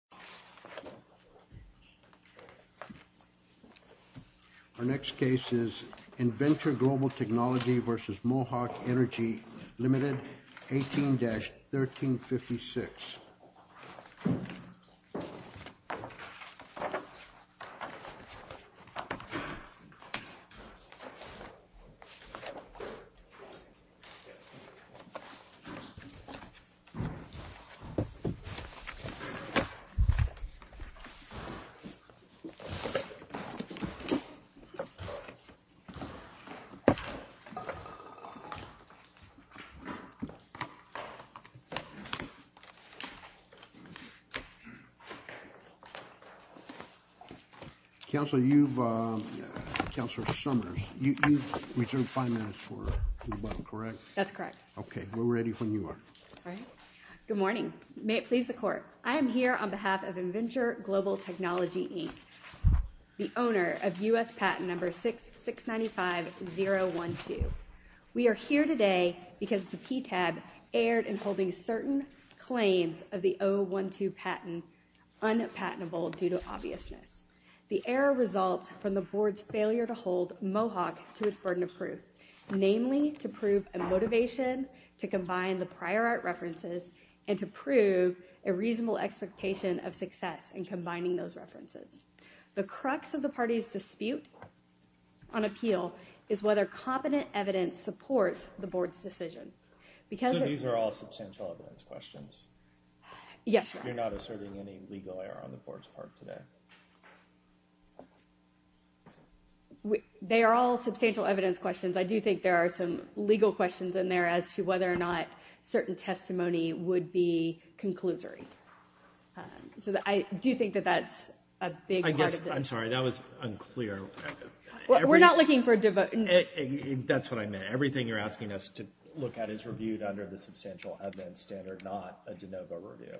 18-1356 The owner of U.S. patent number 6-695-012. We are here today because the PTAB erred in holding certain claims of the 012 patent unpatentable due to obviousness. The error results from the board's failure to hold Mohawk to its burden of proof, namely to prove a motivation to combine the prior art references and to prove a reasonable expectation of success in combining those references. The crux of the party's dispute on appeal is whether competent evidence supports the board's decision. So these are all substantial evidence questions? Yes, sir. You're not asserting any legal error on the board's part today? They are all substantial evidence questions. I do think there are some legal questions in there as to whether or not certain testimony would be conclusory. So I do think that that's a big part of it. I guess, I'm sorry, that was unclear. We're not looking for a... That's what I meant. Everything you're asking us to look at is reviewed under the Substantial Evidence Standard, not a de novo review.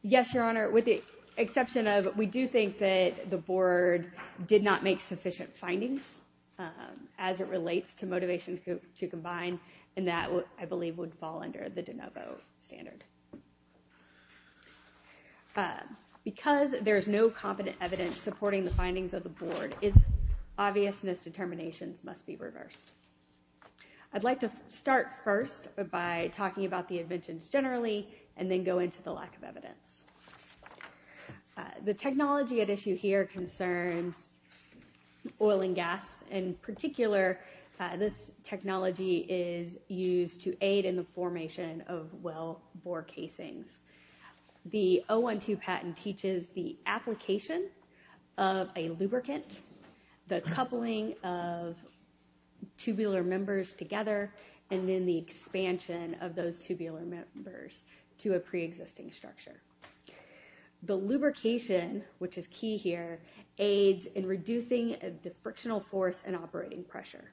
Yes, Your Honor, with the exception of we do think that the board did not make sufficient findings as it relates to motivation to combine, and that, I believe, would fall under the de novo standard. Because there's no competent evidence supporting the findings of the board, its obviousness determinations must be reversed. I'd like to start first by talking about the inventions generally, and then go into the lack of evidence. The technology at issue here concerns oil and gas. In particular, this technology is used to aid in the formation of well bore casings. The 012 patent teaches the application of a lubricant, the coupling of tubular members together, and then the expansion of those tubular members to a pre-existing structure. The lubrication, which is key here, aids in reducing the frictional force and operating pressure.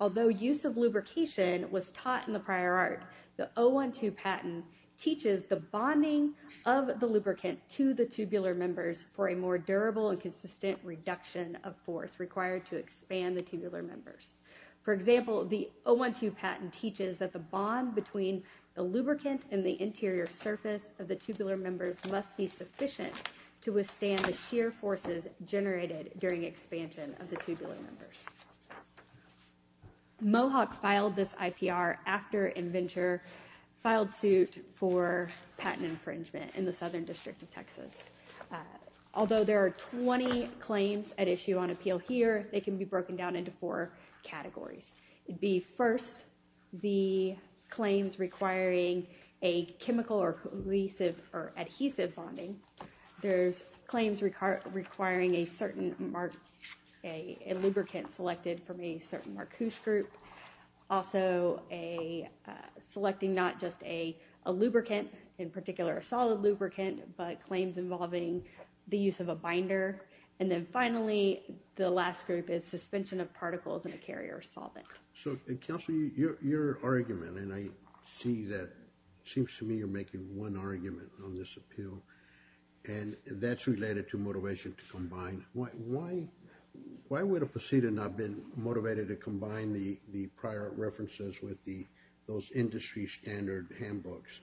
Although use of lubrication was taught in the prior art, the 012 patent teaches the bonding of the lubricant to the tubular members for a more durable and consistent reduction of force required to expand the tubular members. For example, the 012 patent teaches that the bond between the lubricant and the interior surface of the tubular members must be sufficient to withstand the shear forces generated during expansion of the tubular members. Mohawk filed this IPR after InVenture filed suit for patent infringement in the Southern District of Texas. Although there are 20 claims at issue on appeal here, they can be broken down into four categories. It would be first, the claims requiring a chemical or adhesive bonding. There's claims requiring a lubricant selected from a certain marquoise group. Also, selecting not just a lubricant, in particular a solid lubricant, but claims involving the use of a binder. And then finally, the last group is suspension of particles in a carrier solvent. So Counselor, your argument, and I see that, it seems to me you're making one argument on this appeal, and that's related to motivation to combine. Why would a proceedant not be motivated to combine the prior references with those industry standard handbooks?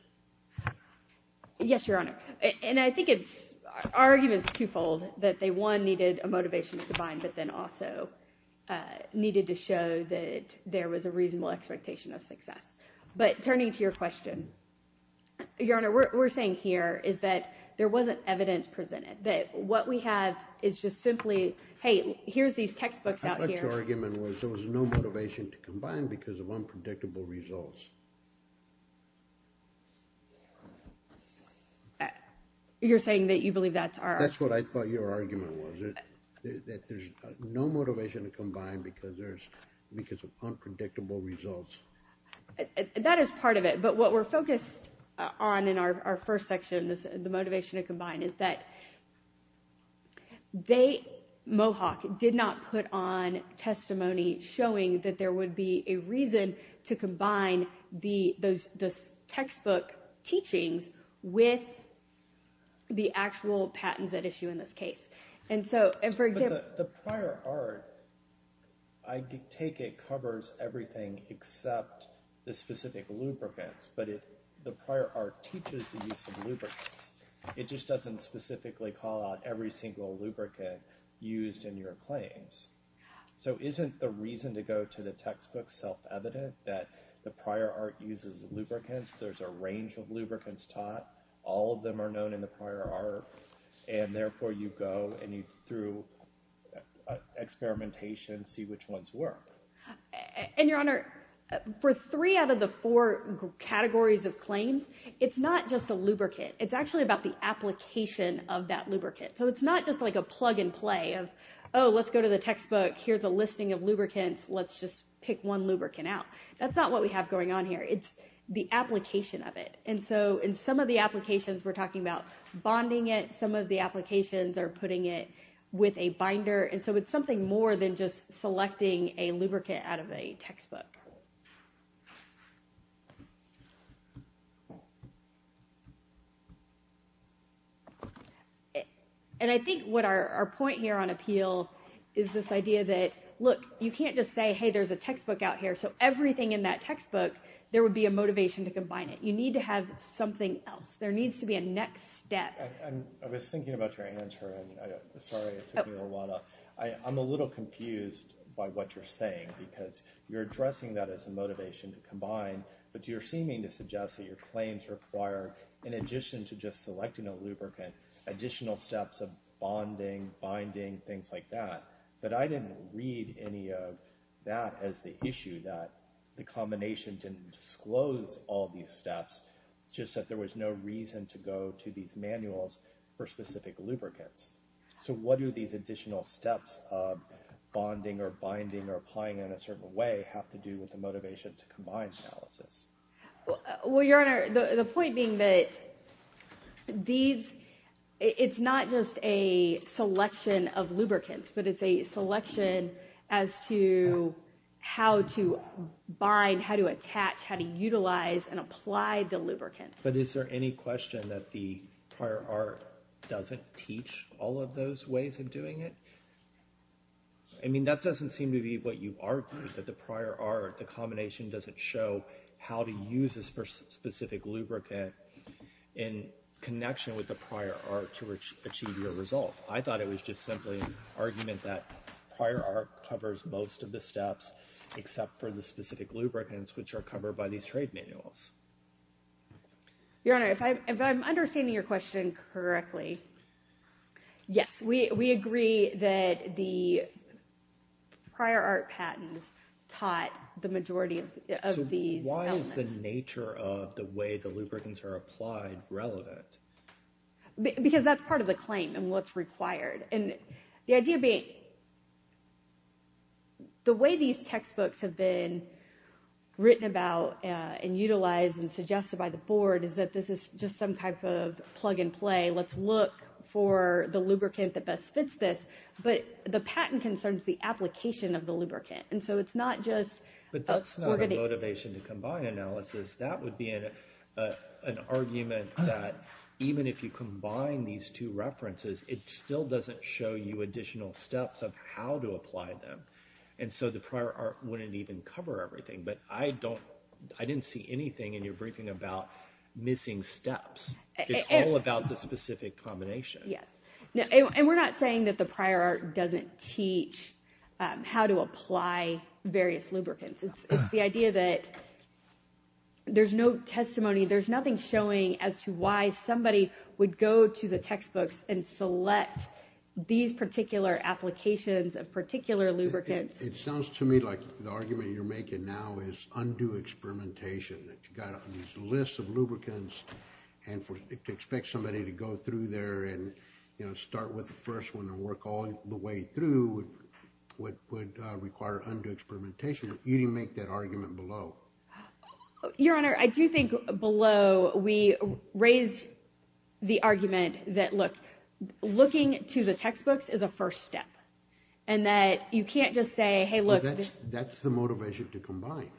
Yes, Your Honor. And I think it's arguments twofold, that they one, needed a motivation to combine, but then also needed to show that there was a reasonable expectation of success. But turning to your question, Your Honor, what we're saying here is that there wasn't evidence presented. What we have is just simply, hey, here's these textbooks out here. I thought your argument was there was no motivation to combine because of unpredictable results. You're saying that you believe that's our argument? That's what I thought your argument was, that there's no motivation to combine because of unpredictable results. That is part of it, but what we're focused on in our first section is the motivation to combine, is that they, Mohawk, did not put on testimony showing that there would be a reason to combine the textbook teachings with the actual patents at issue in this case. And so, and for example- But the prior art, I take it covers everything except the specific lubricants, but if the it just doesn't specifically call out every single lubricant used in your claims. So isn't the reason to go to the textbook self-evident that the prior art uses lubricants? There's a range of lubricants taught. All of them are known in the prior art, and therefore you go and you, through experimentation, see which ones work. And Your Honor, for three out of the four categories of claims, it's not just a lubricant. It's actually about the application of that lubricant. So it's not just like a plug and play of, oh, let's go to the textbook. Here's a listing of lubricants. Let's just pick one lubricant out. That's not what we have going on here. It's the application of it. And so in some of the applications, we're talking about bonding it. Some of the applications are putting it with a binder, and so it's something more than just selecting a lubricant out of a textbook. And I think our point here on appeal is this idea that, look, you can't just say, hey, there's a textbook out here. So everything in that textbook, there would be a motivation to combine it. You need to have something else. There needs to be a next step. I was thinking about your answer, and sorry, it took me a while. I'm a little confused by what you're saying, because you're addressing that as a motivation to combine, but you're seeming to suggest that your claims require, in addition to just selecting a lubricant, additional steps of bonding, binding, things like that. But I didn't read any of that as the issue, that the combination didn't disclose all these steps, just that there was no reason to go to these manuals for specific lubricants. So what do these additional steps of bonding, or binding, or applying in a certain way have to do with the motivation to combine analysis? Well, Your Honor, the point being that it's not just a selection of lubricants, but it's a selection as to how to bind, how to attach, how to utilize and apply the lubricants. But is there any question that the prior art doesn't teach all of those ways of doing it? I mean, that doesn't seem to be what you argued, that the prior art, the combination doesn't show how to use this specific lubricant in connection with the prior art to achieve your result. I thought it was just simply an argument that prior art covers most of the steps, except for the specific lubricants, which are covered by these trade manuals. Your Honor, if I'm understanding your question correctly, yes, we agree that the prior art patents taught the majority of these elements. So why is the nature of the way the lubricants are applied relevant? Because that's part of the claim, and what's required. And the idea being, the way these textbooks have been written about and utilized and suggested by the board, is that this is just some type of plug and play. Let's look for the lubricant that best fits this, but the patent concerns the application of the lubricant. And so it's not just... But that's not a motivation to combine analysis. That would be an argument that even if you combine these two references, it still doesn't show you additional steps of how to apply them. And so the prior art wouldn't even cover everything. But I didn't see anything in your briefing about missing steps. It's all about the specific combination. Yes. And we're not saying that the prior art doesn't teach how to apply various lubricants. It's the idea that there's no testimony, there's nothing showing as to why somebody would go to the textbooks and select these particular applications of particular lubricants. It sounds to me like the argument you're making now is undue experimentation, that you've got these lists of lubricants and to expect somebody to go through there and start with the first one and work all the way through would require undue experimentation. You didn't make that argument below. Your Honor, I do think below we raised the argument that, look, looking to the textbooks is a first step and that you can't just say, hey, look. That's the motivation to combine.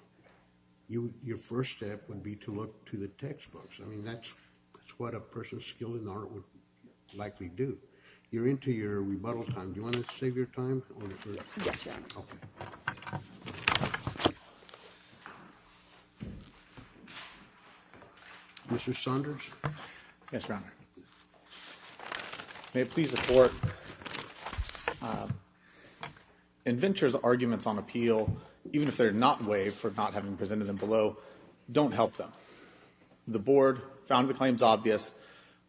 Your first step would be to look to the textbooks. I mean, that's what a person skilled in the art would likely do. You're into your rebuttal time. Do you want to save your time? Yes, Your Honor. Okay. Mr. Saunders? Yes, Your Honor. Your Honor, may it please the Court, InVenture's arguments on appeal, even if they're not waived for not having presented them below, don't help them. The Board found the claims obvious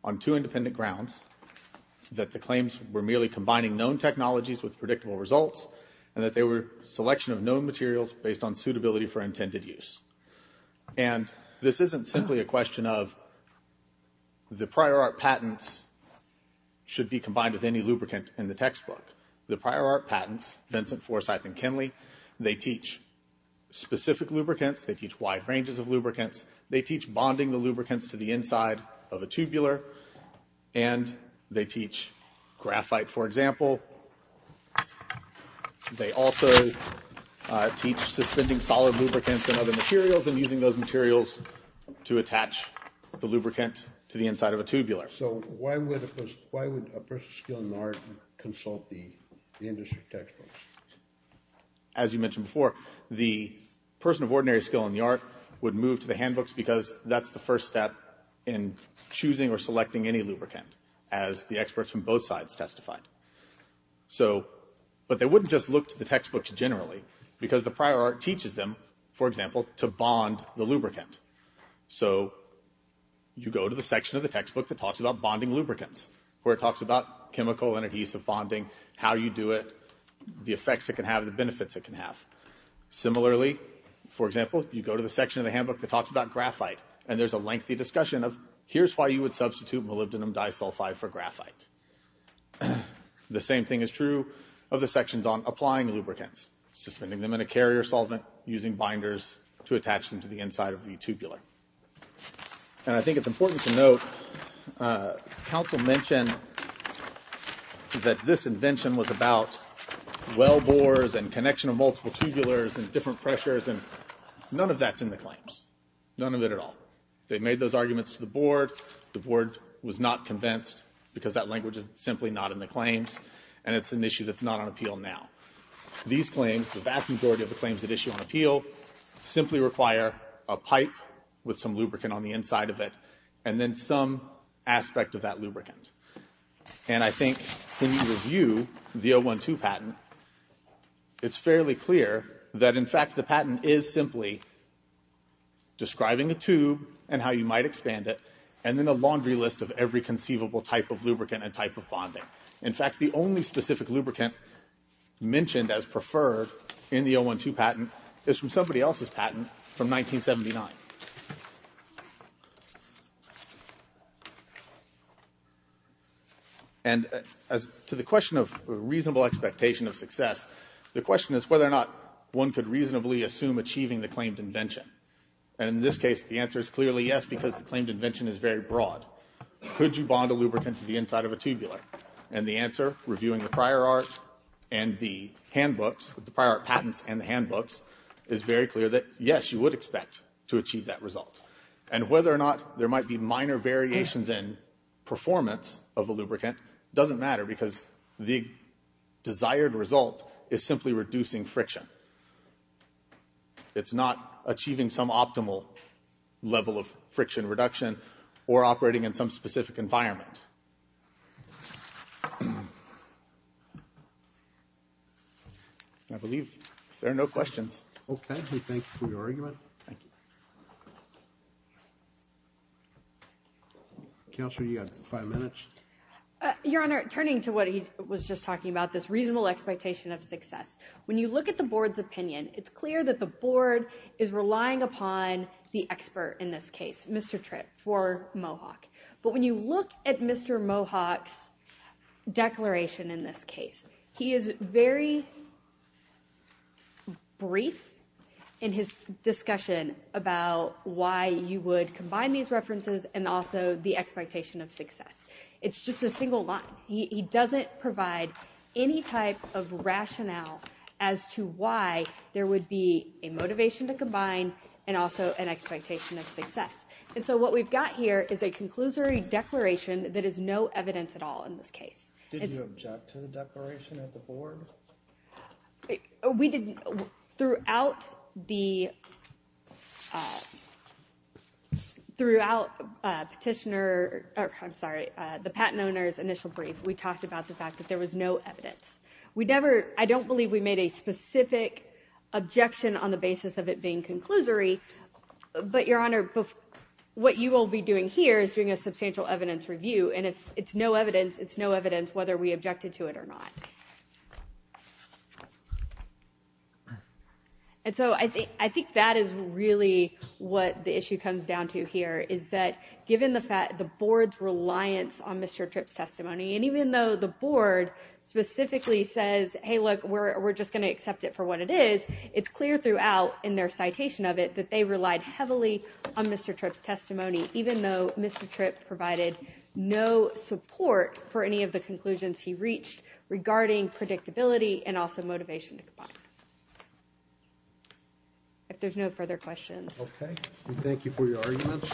on two independent grounds, that the claims were merely combining known technologies with predictable results and that they were a selection of known materials based on suitability for intended use. And this isn't simply a question of the prior art patents should be combined with any lubricant in the textbook. The prior art patents, Vincent, Forsythe, and Kinley, they teach specific lubricants. They teach wide ranges of lubricants. They teach bonding the lubricants to the inside of a tubular. And they teach graphite, for example. They also teach suspending solid lubricants in other materials and using those materials to attach the lubricant to the inside of a tubular. So why would a person of skill in the art consult the industry textbooks? As you mentioned before, the person of ordinary skill in the art would move to the handbooks because that's the first step in choosing or selecting any lubricant, as the experts from both sides testified. But they wouldn't just look to the textbooks generally because the prior art teaches them, for example, to bond the lubricant. So you go to the section of the textbook that talks about bonding lubricants, where it talks about chemical and adhesive bonding, how you do it, the effects it can have, the benefits it can have. Similarly, for example, you go to the section of the handbook that talks about graphite and there's a lengthy discussion of here's why you would substitute molybdenum disulfide for graphite. The same thing is true of the sections on applying lubricants, suspending them in a carrier solvent, using binders to attach them to the inside of the tubular. And I think it's important to note, counsel mentioned that this invention was about well bores and connection of multiple tubulars and different pressures and none of that's in the claims, none of it at all. They made those arguments to the board, the board was not convinced because that language is simply not in the claims and it's an issue that's not on appeal now. These claims, the vast majority of the claims that issue on appeal, simply require a pipe with some lubricant on the inside of it and then some aspect of that lubricant. And I think when you review the 012 patent, it's fairly clear that in fact the patent is simply describing a tube and how you might expand it and then a laundry list of every conceivable type of lubricant and type of bonding. In fact the only specific lubricant mentioned as preferred in the 012 patent is from somebody else's patent from 1979. And as to the question of reasonable expectation of success, the question is whether or not one could reasonably assume achieving the claimed invention and in this case the answer is clearly yes because the claimed invention is very broad. Could you bond a lubricant to the inside of a tubular? And the answer, reviewing the prior art and the handbooks, the prior art patents and the handbooks is very clear that yes, you would expect to achieve that result. And whether or not there might be minor variations in performance of a lubricant doesn't matter because the desired result is simply reducing friction. It's not achieving some optimal level of friction reduction or operating in some specific environment. I believe there are no questions. Okay. Thank you for your argument. Thank you. Counselor, you have five minutes. Your Honor, turning to what he was just talking about, this reasonable expectation of success. When you look at the board's opinion, it's clear that the board is relying upon the expert in this case, Mr. Tripp for Mohawk. But when you look at Mr. Mohawk's declaration in this case, he is very brief in his discussion about why you would combine these references and also the expectation of success. It's just a single line. He doesn't provide any type of rationale as to why there would be a motivation to combine and also an expectation of success. And so what we've got here is a conclusory declaration that is no evidence at all in this case. Did you object to the declaration at the board? We did. Throughout the petitioner, I'm sorry, the patent owner's initial brief, we talked about the fact that there was no evidence. We never, I don't believe we made a specific objection on the basis of it being conclusory. But Your Honor, what you will be doing here is doing a substantial evidence review. And if it's no evidence, it's no evidence whether we objected to it or not. And so I think that is really what the issue comes down to here, is that given the board's reliance on Mr. Tripp's testimony, and even though the board specifically says, hey, look, we're just going to accept it for what it is. It's clear throughout in their citation of it that they relied heavily on Mr. Tripp's support for any of the conclusions he reached regarding predictability and also motivation to comply. If there's no further questions. Okay. We thank you for your arguments.